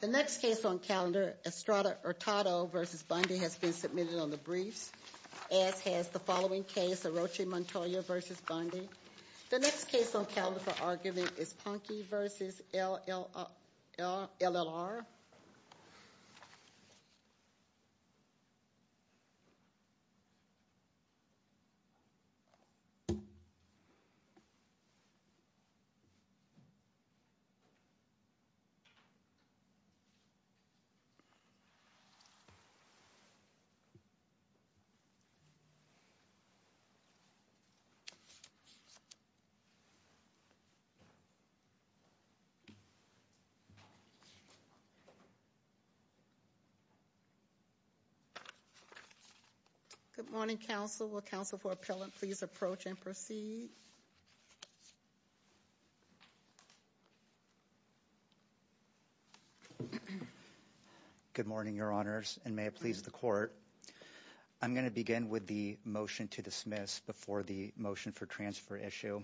The next case on calendar, Estrada Hurtado v. Bundy, has been submitted on the briefs, as has the following case, Orochi Montoya v. Bundy. The next case on calendar for argument is Ponkey v. LLR. The next case on calendar is Estrada Hurtado v. Bundy. Good morning, your honors, and may it please the court. I'm going to begin with the motion to dismiss before the motion for transfer issue.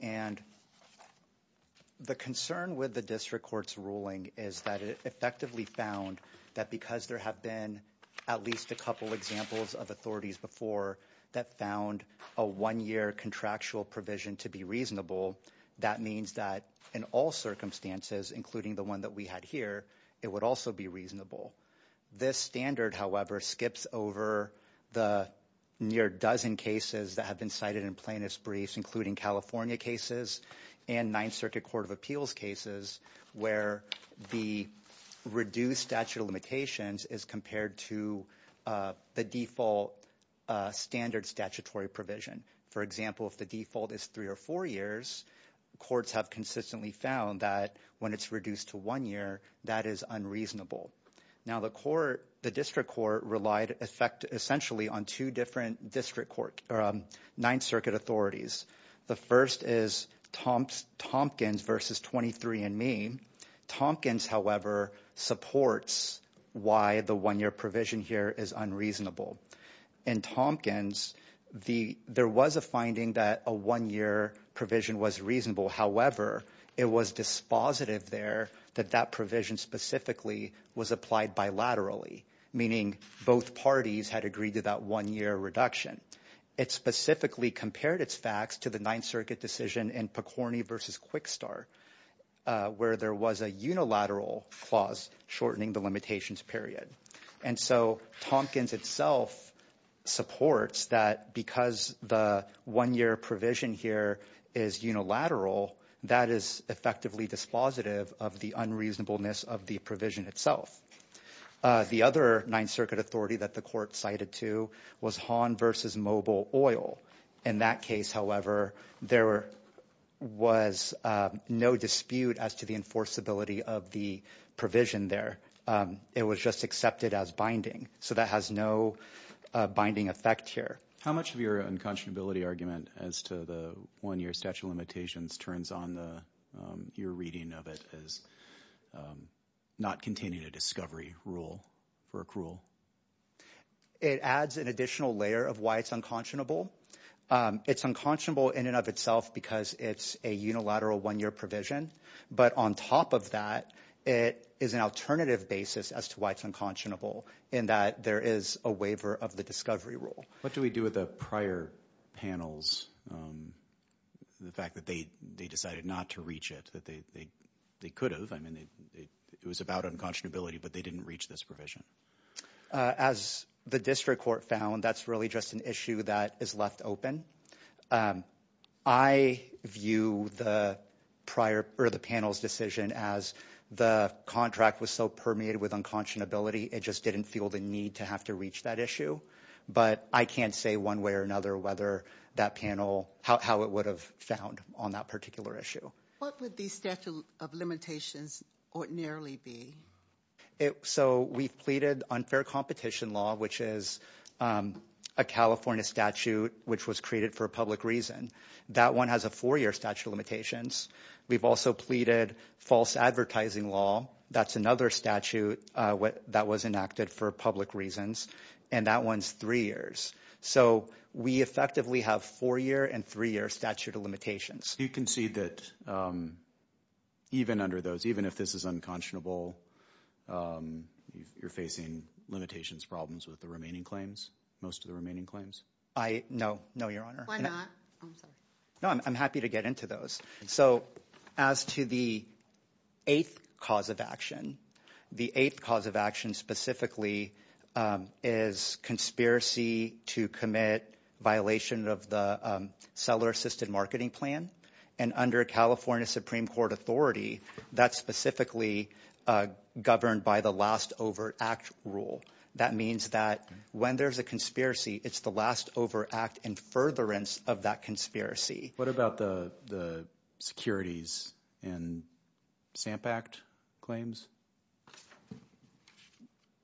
And the concern with the district court's ruling is that it effectively found that because there have been at least a couple examples of authorities before that found a one-year contractual provision to be reasonable, that means that in all circumstances, including the one that we had here, it would also be reasonable. This standard, however, skips over the near dozen cases that have been cited in plaintiff's briefs, including California cases and Ninth Circuit Court of Appeals cases, where the reduced statute of limitations is compared to the default standard statutory provision. For example, if the default is three or four years, courts have consistently found that when it's reduced to one year, that is unreasonable. Now, the district court relied essentially on two different district court or Ninth Circuit authorities. The first is Tompkins v. 23andMe. Tompkins, however, supports why the one-year provision here is unreasonable. In Tompkins, there was a finding that a one-year provision was reasonable. However, it was dispositive there that that provision specifically was applied bilaterally, meaning both parties had agreed to that one-year reduction. It specifically compared its facts to the Ninth Circuit decision in Picorni v. Quickstar, where there was a unilateral clause shortening the limitations period. And so Tompkins itself supports that because the one-year provision here is unilateral, that is effectively dispositive of the unreasonableness of the provision itself. The other Ninth Circuit authority that the court cited to was Hahn v. Mobile Oil. In that case, however, there was no dispute as to the enforceability of the provision there. It was just accepted as binding, so that has no binding effect here. How much of your unconscionability argument as to the one-year statute of limitations turns on your reading of it as not containing a discovery rule for accrual? It adds an additional layer of why it's unconscionable. It's unconscionable in and of itself because it's a unilateral one-year provision. But on top of that, it is an alternative basis as to why it's unconscionable in that there is a waiver of the discovery rule. What do we do with the prior panels, the fact that they decided not to reach it, that they could have? I mean, it was about unconscionability, but they didn't reach this provision. As the district court found, that's really just an issue that is left open. I view the panel's decision as the contract was so permeated with unconscionability, it just didn't feel the need to have to reach that issue. But I can't say one way or another how it would have found on that particular issue. What would the statute of limitations ordinarily be? So we've pleaded unfair competition law, which is a California statute which was created for a public reason. That one has a four-year statute of limitations. We've also pleaded false advertising law. That's another statute that was enacted for public reasons, and that one's three years. So we effectively have four-year and three-year statute of limitations. You concede that even under those, even if this is unconscionable, you're facing limitations, problems with the remaining claims, most of the remaining claims? No, no, Your Honor. Why not? No, I'm happy to get into those. So as to the eighth cause of action, the eighth cause of action specifically is conspiracy to commit violation of the seller-assisted marketing plan. And under California Supreme Court authority, that's specifically governed by the last over act rule. That means that when there's a conspiracy, it's the last over act and furtherance of that conspiracy. What about the securities and SAMP Act claims?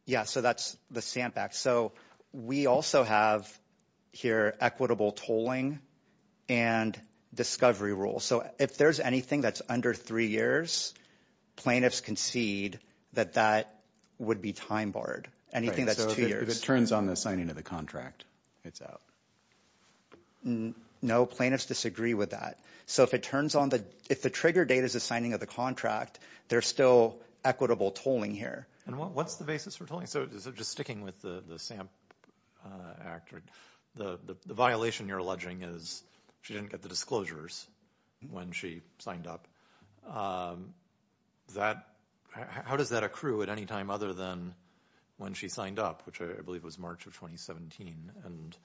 Yeah, so that's the SAMP Act. So we also have here equitable tolling and discovery rule. So if there's anything that's under three years, plaintiffs concede that that would be time barred, anything that's two years. So if it turns on the signing of the contract, it's out. No, plaintiffs disagree with that. So if it turns on the, if the trigger date is the signing of the contract, there's still equitable tolling here. And what's the basis for tolling? So just sticking with the SAMP Act, the violation you're alleging is she didn't get the disclosures when she signed up. How does that accrue at any time other than when she signed up, which I believe was March of 2017? And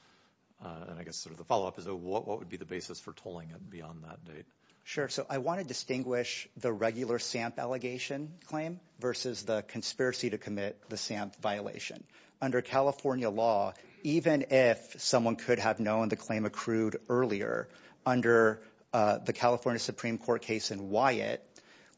I guess sort of the follow-up is what would be the basis for tolling beyond that date? Sure. So I want to distinguish the regular SAMP allegation claim versus the conspiracy to commit the SAMP violation. Under California law, even if someone could have known the claim accrued earlier, under the California Supreme Court case in Wyatt,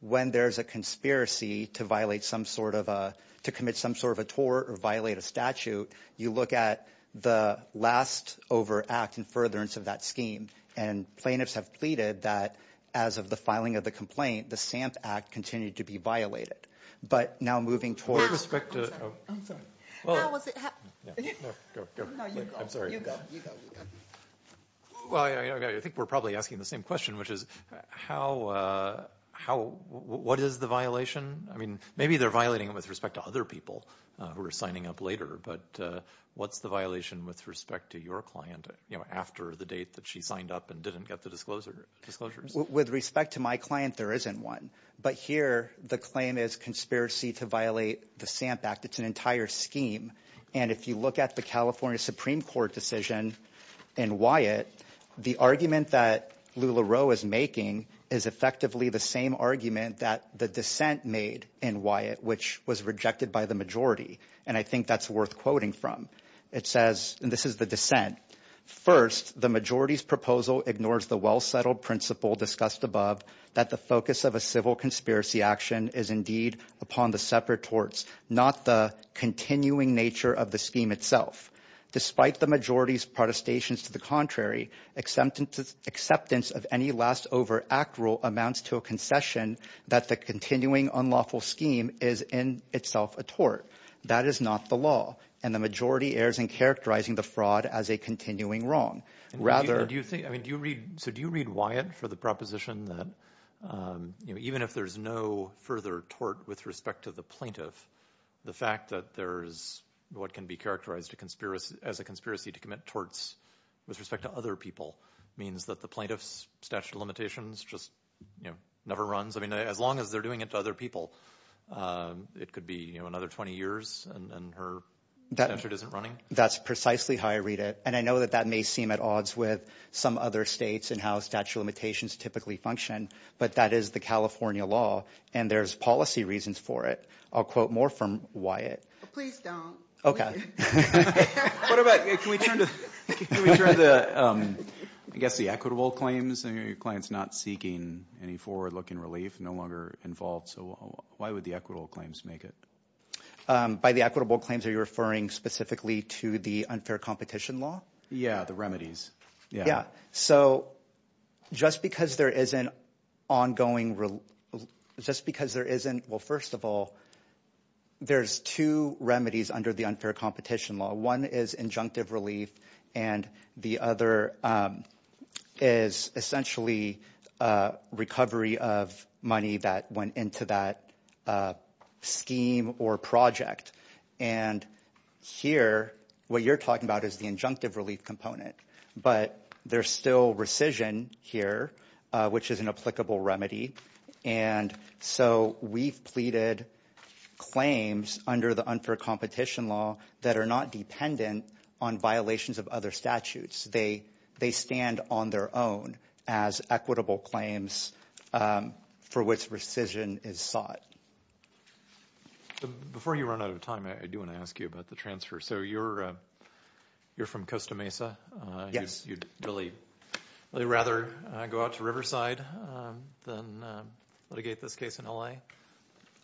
when there's a conspiracy to violate some sort of a, to commit some sort of a tort or violate a statute, you look at the last over act in furtherance of that scheme. And plaintiffs have pleaded that as of the filing of the complaint, the SAMP Act continued to be violated. But now moving towards- With respect to- I'm sorry. Now, was it- No, go, go. No, you go. I'm sorry. You go, you go. Well, I think we're probably asking the same question, which is how, what is the violation? I mean, maybe they're violating it with respect to other people who are signing up later, but what's the violation with respect to your client after the date that she signed up and didn't get the disclosures? With respect to my client, there isn't one. But here, the claim is conspiracy to violate the SAMP Act. It's an entire scheme. And if you look at the California Supreme Court decision in Wyatt, the argument that LuLaRoe is making is effectively the same argument that the dissent made in Wyatt, which was rejected by the majority. And I think that's worth quoting from. It says, and this is the dissent, First, the majority's proposal ignores the well-settled principle discussed above, that the focus of a civil conspiracy action is indeed upon the separate torts, not the continuing nature of the scheme itself. Despite the majority's protestations to the contrary, acceptance of any last over act rule amounts to a concession that the continuing unlawful scheme is in itself a tort. That is not the law. And the majority errs in characterizing the fraud as a continuing wrong. So do you read Wyatt for the proposition that even if there's no further tort with respect to the plaintiff, the fact that there is what can be characterized as a conspiracy to commit torts with respect to other people means that the plaintiff's statute of limitations just never runs? I mean, as long as they're doing it to other people, it could be another 20 years and her statute isn't running? That's precisely how I read it. And I know that that may seem at odds with some other states and how statute of limitations typically function, but that is the California law, and there's policy reasons for it. I'll quote more from Wyatt. Please don't. Okay. Can we turn to, I guess, the equitable claims? Your client's not seeking any forward-looking relief, no longer involved. So why would the equitable claims make it? By the equitable claims, are you referring specifically to the unfair competition law? Yeah, the remedies. So just because there isn't ongoing – just because there isn't – well, first of all, there's two remedies under the unfair competition law. One is injunctive relief, and the other is essentially recovery of money that went into that scheme or project. And here, what you're talking about is the injunctive relief component. But there's still rescission here, which is an applicable remedy. And so we've pleaded claims under the unfair competition law that are not dependent on violations of other statutes. They stand on their own as equitable claims for which rescission is sought. Before you run out of time, I do want to ask you about the transfer. So you're from Costa Mesa? You'd really rather go out to Riverside than litigate this case in L.A.?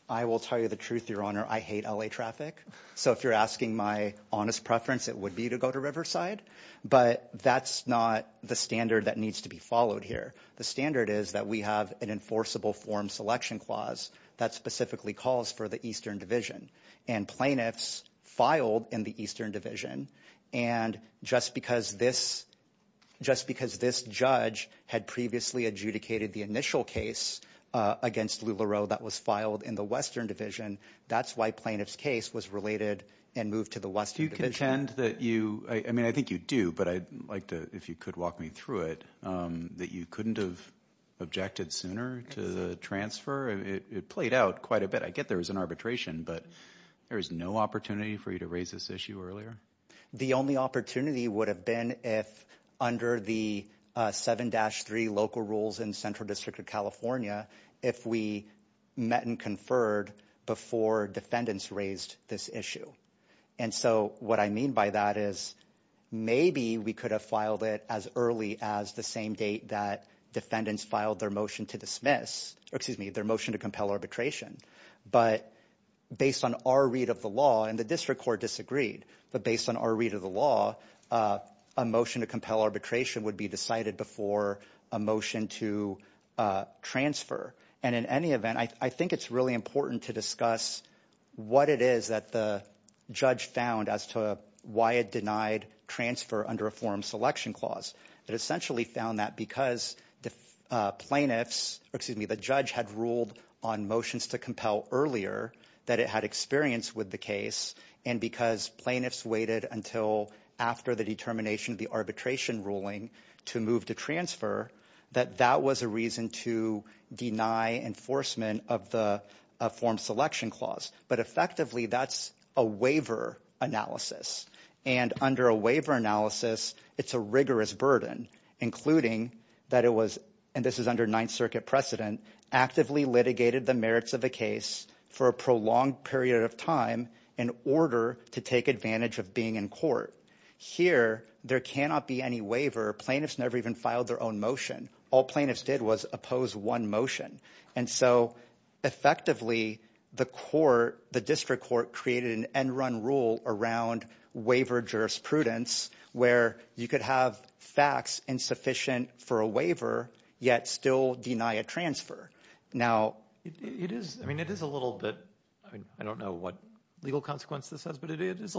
I will tell you the truth, Your Honor. I hate L.A. traffic. So if you're asking my honest preference, it would be to go to Riverside. But that's not the standard that needs to be followed here. The standard is that we have an enforceable form selection clause that specifically calls for the Eastern Division. And plaintiffs filed in the Eastern Division. And just because this judge had previously adjudicated the initial case against LuLaRoe that was filed in the Western Division, that's why plaintiff's case was related and moved to the Western Division. I mean, I think you do, but I'd like to, if you could walk me through it, that you couldn't have objected sooner to the transfer? It played out quite a bit. I get there was an arbitration, but there was no opportunity for you to raise this issue earlier? The only opportunity would have been if under the 7-3 local rules in Central District of California, if we met and conferred before defendants raised this issue. And so what I mean by that is maybe we could have filed it as early as the same date that defendants filed their motion to dismiss, or excuse me, their motion to compel arbitration. But based on our read of the law, and the district court disagreed, but based on our read of the law, a motion to compel arbitration would be decided before a motion to transfer. And in any event, I think it's really important to discuss what it is that the judge found as to why it denied transfer under a forum selection clause. It essentially found that because the judge had ruled on motions to compel earlier that it had experience with the case, and because plaintiffs waited until after the determination of the arbitration ruling to move to transfer, that that was a reason to deny enforcement of the forum selection clause. But effectively, that's a waiver analysis. And under a waiver analysis, it's a rigorous burden, including that it was, and this is under Ninth Circuit precedent, actively litigated the merits of the case for a prolonged period of time in order to take advantage of being in court. Here, there cannot be any waiver. Plaintiffs never even filed their own motion. All plaintiffs did was oppose one motion. And so effectively, the court, the district court created an end-run rule around waiver jurisprudence where you could have facts insufficient for a waiver yet still deny a transfer. It is a little bit, I don't know what legal consequence this has, but it is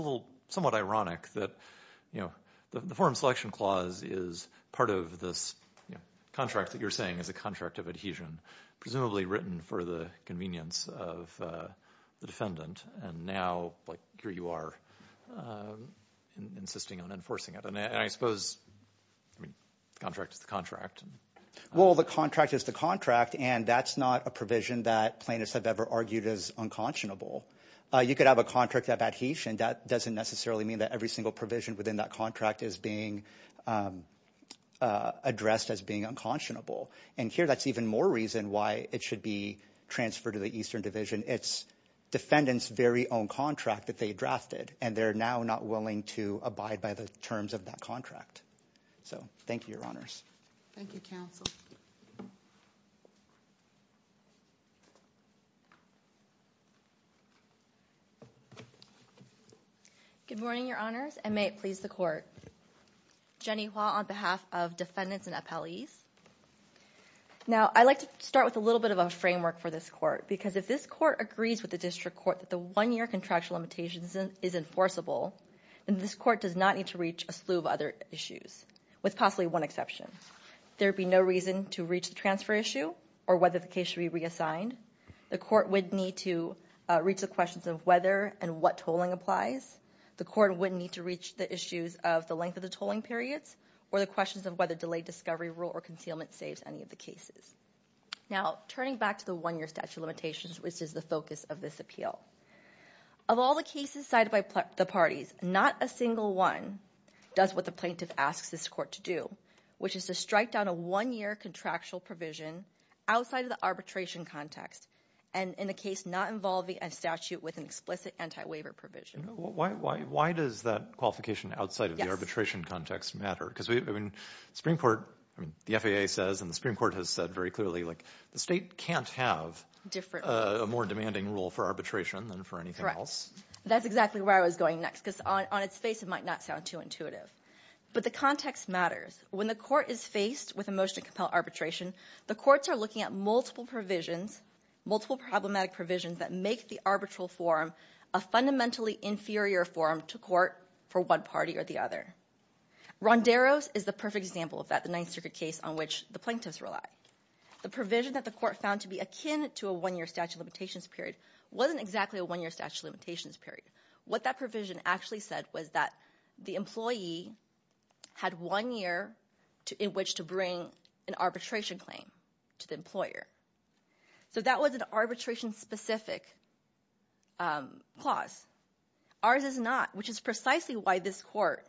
somewhat ironic that the forum selection clause is part of this contract that you're saying is a contract of adhesion, presumably written for the convenience of the defendant, and now here you are insisting on enforcing it. And I suppose the contract is the contract. Well, the contract is the contract, and that's not a provision that plaintiffs have ever argued as unconscionable. You could have a contract of adhesion. That doesn't necessarily mean that every single provision within that contract is being addressed as being unconscionable. And here, that's even more reason why it should be transferred to the Eastern Division. It's defendant's very own contract that they drafted, and they're now not willing to abide by the terms of that contract. So thank you, Your Honors. Thank you, Counsel. Good morning, Your Honors, and may it please the Court. Jenny Hua on behalf of defendants and appellees. Now, I'd like to start with a little bit of a framework for this Court, because if this Court agrees with the District Court that the one-year contractual limitation is enforceable, then this Court does not need to reach a slew of other issues, with possibly one exception. There would be no reason to reach the transfer issue, or whether the case should be reassigned. The Court would need to reach the questions of whether and what tolling applies. The Court would need to reach the issues of the length of the tolling periods, or the questions of whether delayed discovery rule or concealment saves any of the cases. Now, turning back to the one-year statute of limitations, which is the focus of this appeal. Of all the cases cited by the parties, not a single one does what the plaintiff asks this Court to do, which is to strike down a one-year contractual provision outside of the arbitration context, and in a case not involving a statute with an explicit anti-waiver provision. Why does that qualification outside of the arbitration context matter? Because the Supreme Court, the FAA says, and the Supreme Court has said very clearly, the state can't have a more demanding rule for arbitration than for anything else. Correct. That's exactly where I was going next, because on its face it might not sound too intuitive. But the context matters. When the Court is faced with a motion to compel arbitration, the courts are looking at multiple provisions, multiple problematic provisions, that make the arbitral forum a fundamentally inferior forum to court for one party or the other. Ronderos is the perfect example of that, the Ninth Circuit case on which the plaintiffs rely. The provision that the Court found to be akin to a one-year statute of limitations period wasn't exactly a one-year statute of limitations period. What that provision actually said was that the employee had one year in which to bring an arbitration claim to the employer. So that was an arbitration-specific clause. Ours is not, which is precisely why this Court,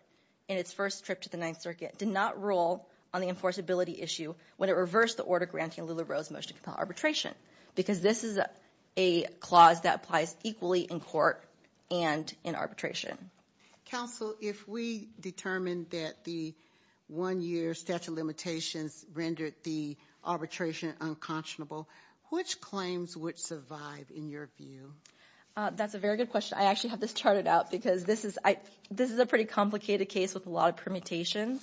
in its first trip to the Ninth Circuit, did not rule on the enforceability issue when it reversed the order granting Lula Rose motion to compel arbitration, because this is a clause that applies equally in court and in arbitration. Counsel, if we determine that the one-year statute of limitations rendered the arbitration unconscionable, which claims would survive, in your view? That's a very good question. I actually have this charted out, because this is a pretty complicated case with a lot of permutations.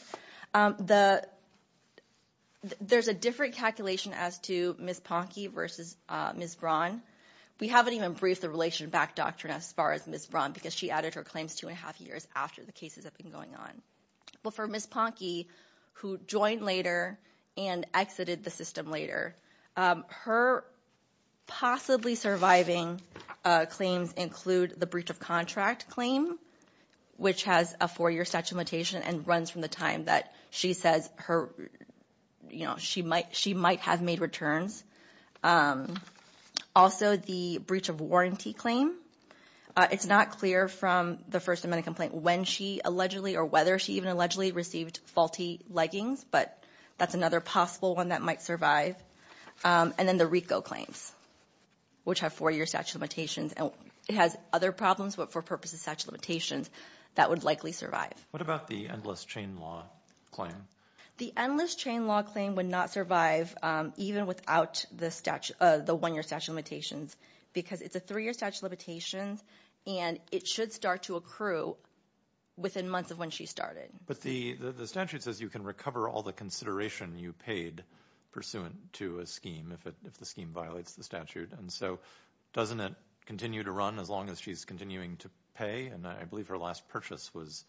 There's a different calculation as to Ms. Ponke versus Ms. Braun. We haven't even briefed the relation back doctrine as far as Ms. Braun, because she added her claims two and a half years after the cases have been going on. Well, for Ms. Ponke, who joined later and exited the system later, her possibly surviving claims include the breach of contract claim, which has a four-year statute of limitations and runs from the time that she says she might have made returns. Also, the breach of warranty claim. It's not clear from the First Amendment complaint when she allegedly or whether she even allegedly received faulty leggings, but that's another possible one that might survive. And then the RICO claims, which have four-year statute of limitations. It has other problems, but for purposes of statute of limitations, that would likely survive. What about the endless chain law claim? The endless chain law claim would not survive even without the one-year statute of limitations, because it's a three-year statute of limitations, and it should start to accrue within months of when she started. But the statute says you can recover all the consideration you paid pursuant to a scheme if the scheme violates the statute. And so doesn't it continue to run as long as she's continuing to pay? And I believe her last purchase was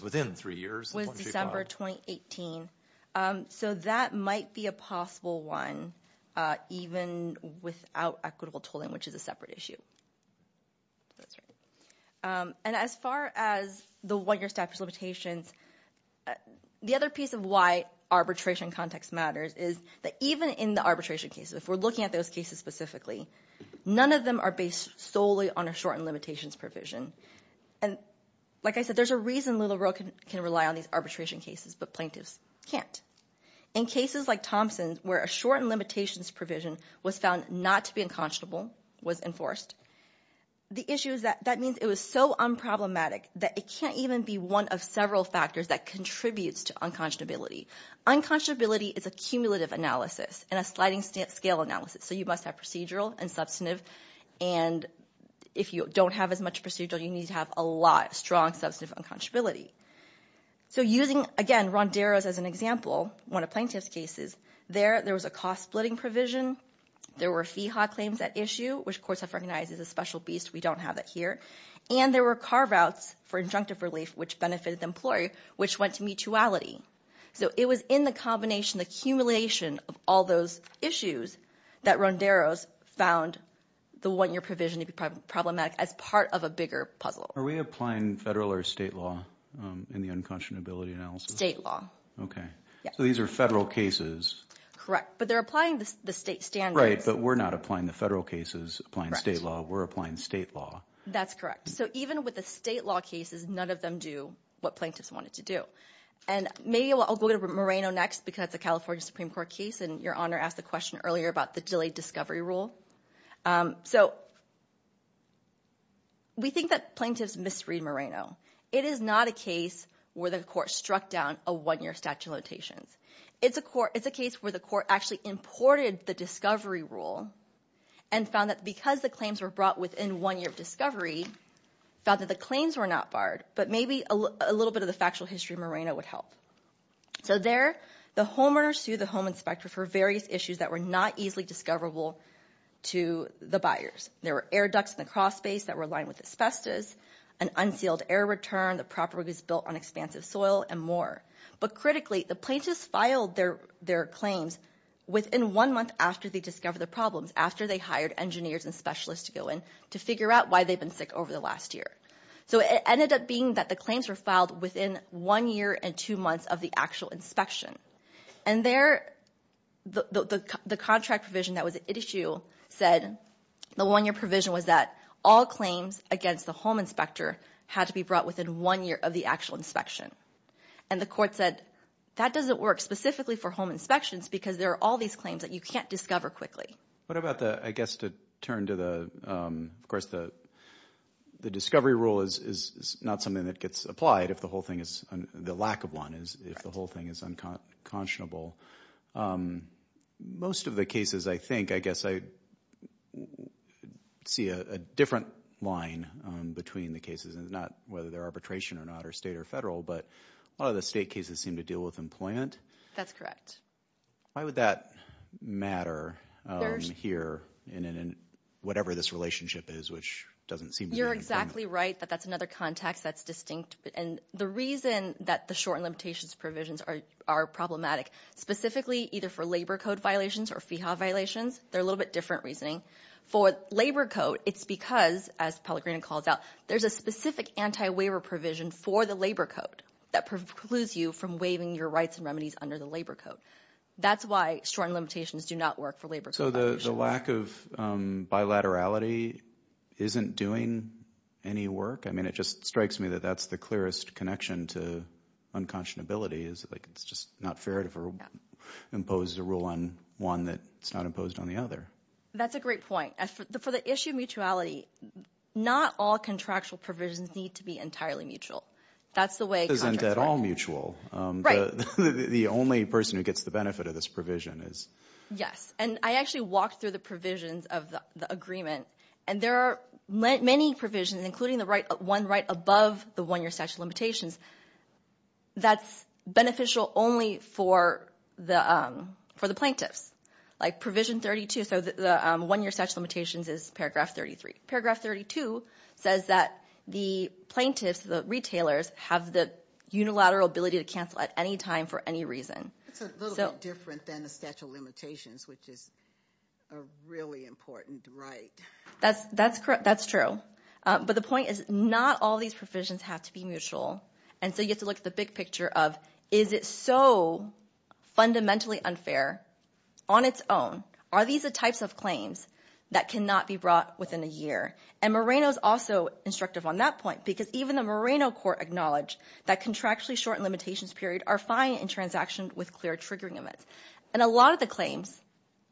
within three years. It was December 2018. So that might be a possible one, even without equitable tolling, which is a separate issue. That's right. And as far as the one-year statute of limitations, the other piece of why arbitration context matters is that even in the arbitration cases, if we're looking at those cases specifically, none of them are based solely on a shortened limitations provision. And like I said, there's a reason Little Row can rely on these arbitration cases, but plaintiffs can't. In cases like Thompson's, where a shortened limitations provision was found not to be unconscionable, was enforced, the issue is that that means it was so unproblematic that it can't even be one of several factors that contributes to unconscionability. Unconscionability is a cumulative analysis and a sliding scale analysis, so you must have procedural and substantive. And if you don't have as much procedural, you need to have a lot of strong substantive unconscionability. So using, again, Ronderos as an example, one of plaintiff's cases, there was a cost-splitting provision. There were FIHA claims at issue, which courts have recognized as a special beast. We don't have it here. And there were carve-outs for injunctive relief, which benefited the employee, which went to mutuality. So it was in the combination, the accumulation of all those issues, that Ronderos found the one-year provision to be problematic as part of a bigger puzzle. Are we applying federal or state law in the unconscionability analysis? State law. Okay. So these are federal cases. Correct, but they're applying the state standards. Right, but we're not applying the federal cases, applying state law. We're applying state law. That's correct. So even with the state law cases, none of them do what plaintiffs wanted to do. And maybe I'll go to Moreno next because it's a California Supreme Court case, and Your Honor asked the question earlier about the delayed discovery rule. So we think that plaintiffs misread Moreno. It is not a case where the court struck down a one-year statute of limitations. It's a case where the court actually imported the discovery rule and found that because the claims were brought within one year of discovery, found that the claims were not barred, but maybe a little bit of the factual history of Moreno would help. So there, the homeowner sued the home inspector for various issues that were not easily discoverable to the buyers. There were air ducts in the cross space that were lined with asbestos, an unsealed air return, the property was built on expansive soil, and more. But critically, the plaintiffs filed their claims within one month after they discovered the problems, after they hired engineers and specialists to go in to figure out why they've been sick over the last year. So it ended up being that the claims were filed within one year and two months of the actual inspection. And there, the contract provision that was at issue said, the one-year provision was that all claims against the home inspector had to be brought within one year of the actual inspection. And the court said, that doesn't work specifically for home inspections because there are all these claims that you can't discover quickly. What about the, I guess, to turn to the, of course, the discovery rule is not something that gets applied if the whole thing is, the lack of one, if the whole thing is unconscionable. Most of the cases, I think, I guess I see a different line between the cases, and not whether they're arbitration or not, or state or federal, but a lot of the state cases seem to deal with employment. That's correct. Why would that matter here in whatever this relationship is, which doesn't seem to be employment? You're exactly right, but that's another context that's distinct. And the reason that the shortened limitations provisions are problematic, specifically either for labor code violations or FEHA violations, they're a little bit different reasoning. For labor code, it's because, as Pellegrino calls out, there's a specific anti-waiver provision for the labor code that precludes you from waiving your rights and remedies under the labor code. That's why shortened limitations do not work for labor code violations. So the lack of bilaterality isn't doing any work? I mean, it just strikes me that that's the clearest connection to unconscionability, is like it's just not fair to impose a rule on one that's not imposed on the other. That's a great point. For the issue of mutuality, not all contractual provisions need to be entirely mutual. That's the way contracts work. It isn't at all mutual. Right. The only person who gets the benefit of this provision is. Yes, and I actually walked through the provisions of the agreement, and there are many provisions, including the one right above the one-year statute of limitations, that's beneficial only for the plaintiffs. Like provision 32, so the one-year statute of limitations is paragraph 33. Paragraph 32 says that the plaintiffs, the retailers, have the unilateral ability to cancel at any time for any reason. That's a little bit different than the statute of limitations, which is a really important right. That's true. But the point is not all these provisions have to be mutual, and so you have to look at the big picture of is it so fundamentally unfair on its own? Are these the types of claims that cannot be brought within a year? And Moreno's also instructive on that point because even the Moreno court acknowledged that contractually shortened limitations period are fine in transactions with clear triggering events. And a lot of the claims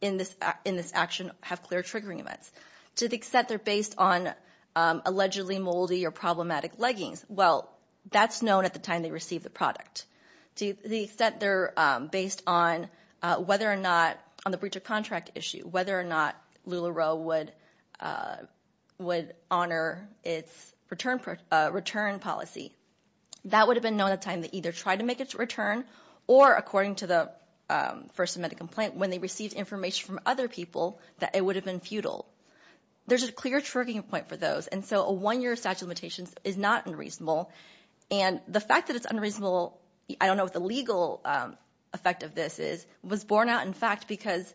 in this action have clear triggering events. To the extent they're based on allegedly moldy or problematic leggings, well, that's known at the time they receive the product. To the extent they're based on whether or not on the breach of contract issue, whether or not LuLaRoe would honor its return policy. That would have been known at the time they either tried to make its return or, according to the first amendment complaint, when they received information from other people that it would have been futile. There's a clear triggering point for those, and so a one-year statute of limitations is not unreasonable. And the fact that it's unreasonable, I don't know what the legal effect of this is, was borne out in fact because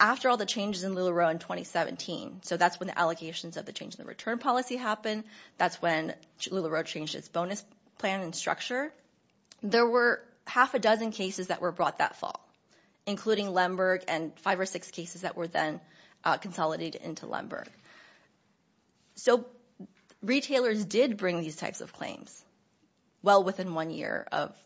after all the changes in LuLaRoe in 2017, so that's when the allocations of the change in the return policy happened, that's when LuLaRoe changed its bonus plan and structure, there were half a dozen cases that were brought that fall, including Lemberg and five or six cases that were then consolidated into Lemberg. So retailers did bring these types of claims well within one year of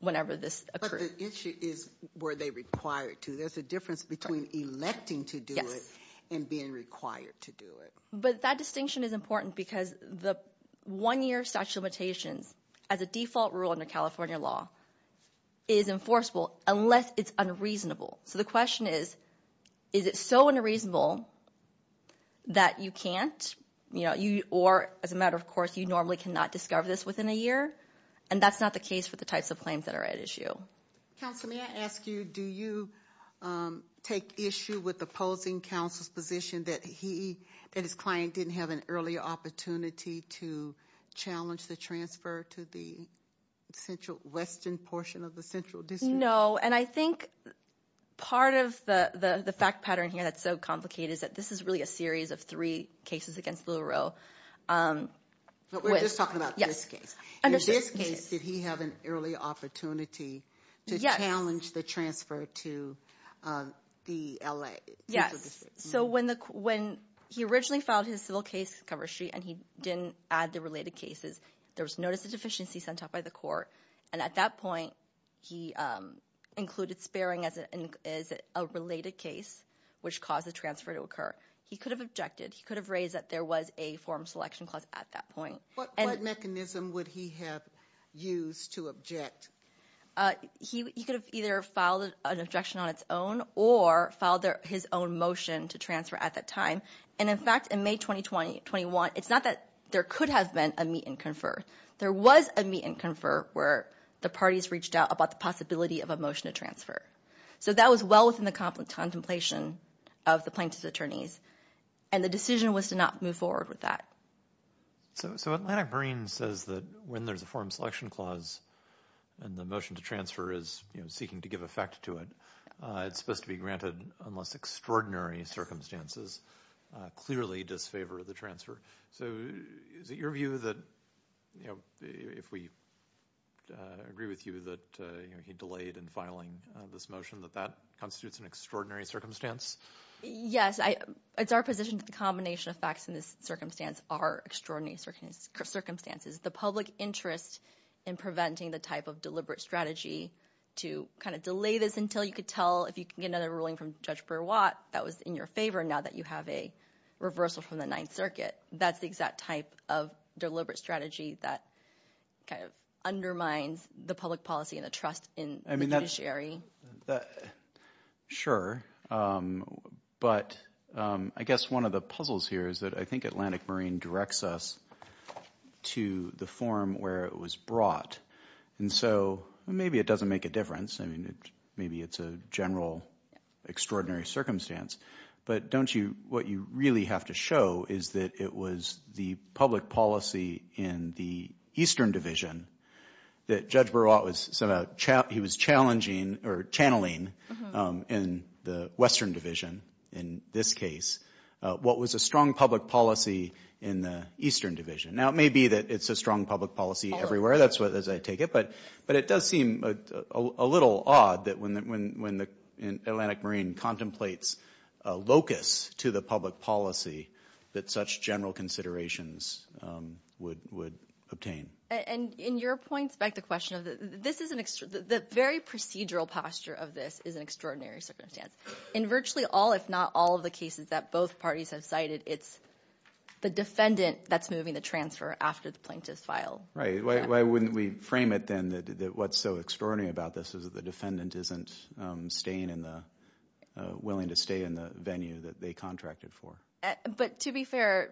whenever this occurred. But the issue is were they required to. There's a difference between electing to do it and being required to do it. But that distinction is important because the one-year statute of limitations as a default rule under California law is enforceable unless it's unreasonable. So the question is, is it so unreasonable that you can't, or as a matter of course you normally cannot discover this within a year? And that's not the case for the types of claims that are at issue. Counselor, may I ask you, do you take issue with opposing counsel's position that he and his client didn't have an early opportunity to challenge the transfer to the central western portion of the central district? No, and I think part of the fact pattern here that's so complicated is that this is really a series of three cases against Little Row. But we're just talking about this case. In this case, did he have an early opportunity to challenge the transfer to the L.A. central district? Yes. So when he originally filed his civil case cover sheet and he didn't add the related cases, there was notice of deficiency sent out by the court. And at that point, he included sparing as a related case, which caused the transfer to occur. He could have objected. He could have raised that there was a form selection clause at that point. What mechanism would he have used to object? He could have either filed an objection on its own or filed his own motion to transfer at that time. And in fact, in May 2021, it's not that there could have been a meet and confer. There was a meet and confer where the parties reached out about the possibility of a motion to transfer. So that was well within the contemplation of the plaintiff's attorneys, and the decision was to not move forward with that. So Atlantic Marine says that when there's a form selection clause and the motion to transfer is seeking to give effect to it, it's supposed to be granted unless extraordinary circumstances clearly disfavor the transfer. So is it your view that if we agree with you that he delayed in filing this motion, that that constitutes an extraordinary circumstance? Yes, it's our position that the combination of facts in this circumstance are extraordinary circumstances. The public interest in preventing the type of deliberate strategy to kind of delay this until you could tell if you can get another ruling from Judge Brewer-Watt that was in your favor now that you have a reversal from the Ninth Circuit. That's the exact type of deliberate strategy that kind of undermines the public policy and the trust in the judiciary. Sure. But I guess one of the puzzles here is that I think Atlantic Marine directs us to the forum where it was brought. And so maybe it doesn't make a difference. Maybe it's a general extraordinary circumstance. But don't you what you really have to show is that it was the public policy in the Eastern Division that Judge Brewer-Watt was challenging or channeling in the Western Division, in this case, what was a strong public policy in the Eastern Division. Now, it may be that it's a strong public policy everywhere, that's as I take it. But it does seem a little odd that when Atlantic Marine contemplates a locus to the public policy that such general considerations would obtain. And in your points, back to the question, the very procedural posture of this is an extraordinary circumstance. In virtually all, if not all, of the cases that both parties have cited, it's the defendant that's moving the transfer after the plaintiff's file. Right. Why wouldn't we frame it then that what's so extraordinary about this is that the defendant isn't willing to stay in the venue that they contracted for. But to be fair,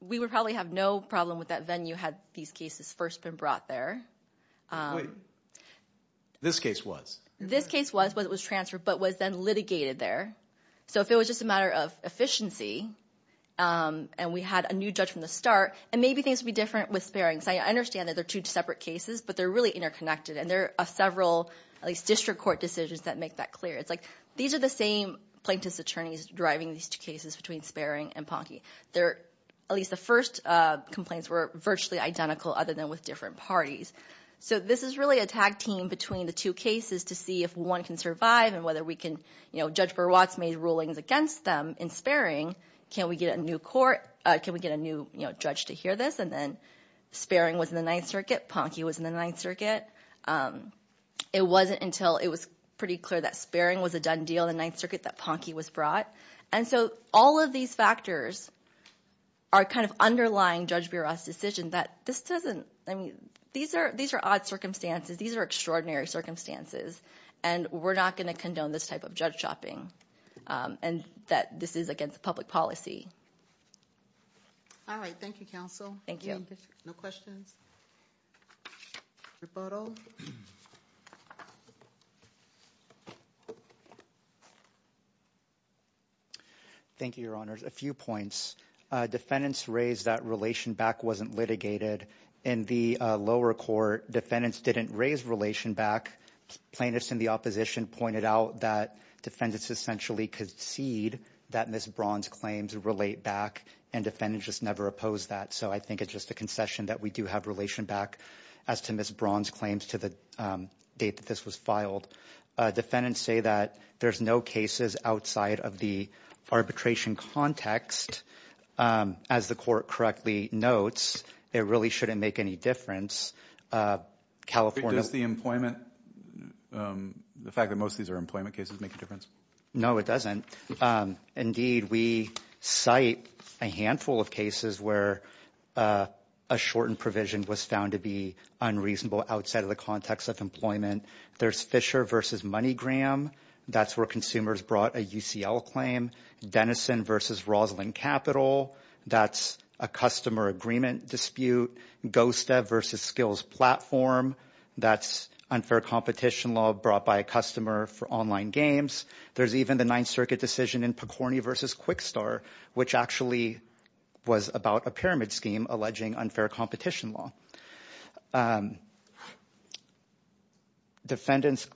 we would probably have no problem with that venue had these cases first been brought there. Wait. This case was? This case was, but it was transferred, but was then litigated there. So if it was just a matter of efficiency and we had a new judge from the start, and maybe things would be different with sparing. So I understand that they're two separate cases, but they're really interconnected. And there are several, at least district court decisions that make that clear. It's like these are the same plaintiff's attorneys driving these two cases between sparing and Ponky. At least the first complaints were virtually identical other than with different parties. So this is really a tag team between the two cases to see if one can survive and whether we can, you know, Judge Berwatt's made rulings against them in sparing. Can we get a new court, can we get a new judge to hear this? And then sparing was in the Ninth Circuit. Ponky was in the Ninth Circuit. It wasn't until it was pretty clear that sparing was a done deal in the Ninth Circuit that Ponky was brought. And so all of these factors are kind of underlying Judge Berwatt's decision that this doesn't, I mean, these are odd circumstances. These are extraordinary circumstances. And we're not going to condone this type of judge chopping and that this is against public policy. All right. Thank you, counsel. Thank you. No questions. Your photo. Thank you, Your Honors. A few points. Defendants raised that relation back wasn't litigated in the lower court. Defendants didn't raise relation back. Plaintiffs in the opposition pointed out that defendants essentially concede that Ms. Braun's claims relate back and defendants just never oppose that. So I think it's just a concession that we do have relation back as to Ms. Braun's claims to the date that this was filed. Defendants say that there's no cases outside of the arbitration context. As the court correctly notes, it really shouldn't make any difference. Does the employment, the fact that most of these are employment cases make a difference? No, it doesn't. Indeed, we cite a handful of cases where a shortened provision was found to be unreasonable outside of the context of employment. There's Fisher versus MoneyGram. That's where consumers brought a UCL claim. Denison versus Roslyn Capital. That's a customer agreement dispute. GOSTA versus Skills Platform. That's unfair competition law brought by a customer for online games. There's even the Ninth Circuit decision in Picorni versus Quickstar, which actually was about a pyramid scheme alleging unfair competition law. Defendants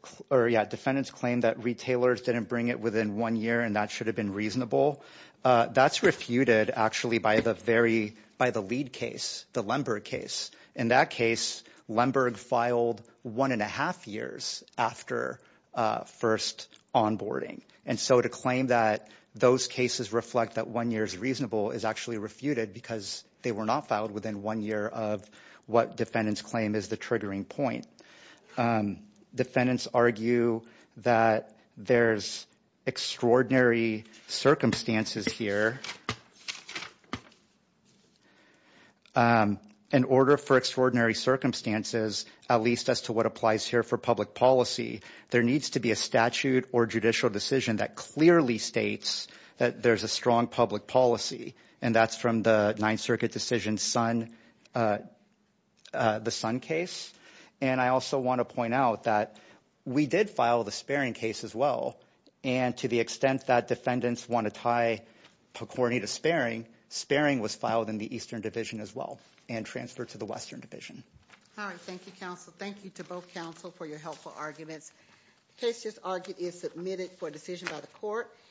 claim that retailers didn't bring it within one year and that should have been reasonable. That's refuted actually by the lead case, the Lemberg case. In that case, Lemberg filed one and a half years after first onboarding. And so to claim that those cases reflect that one year is reasonable is actually refuted because they were not filed within one year of what defendants claim is the triggering point. Defendants argue that there's extraordinary circumstances here. In order for extraordinary circumstances, at least as to what applies here for public policy, there needs to be a statute or judicial decision that clearly states that there's a strong public policy. And that's from the Ninth Circuit decision, the Sun case. And I also want to point out that we did file the Sparing case as well. And to the extent that defendants want to tie Picorni to Sparing, Sparing was filed in the Eastern Division as well and transferred to the Western Division. All right. Thank you, counsel. Thank you to both counsel for your helpful arguments. The case just argued is submitted for decision by the court.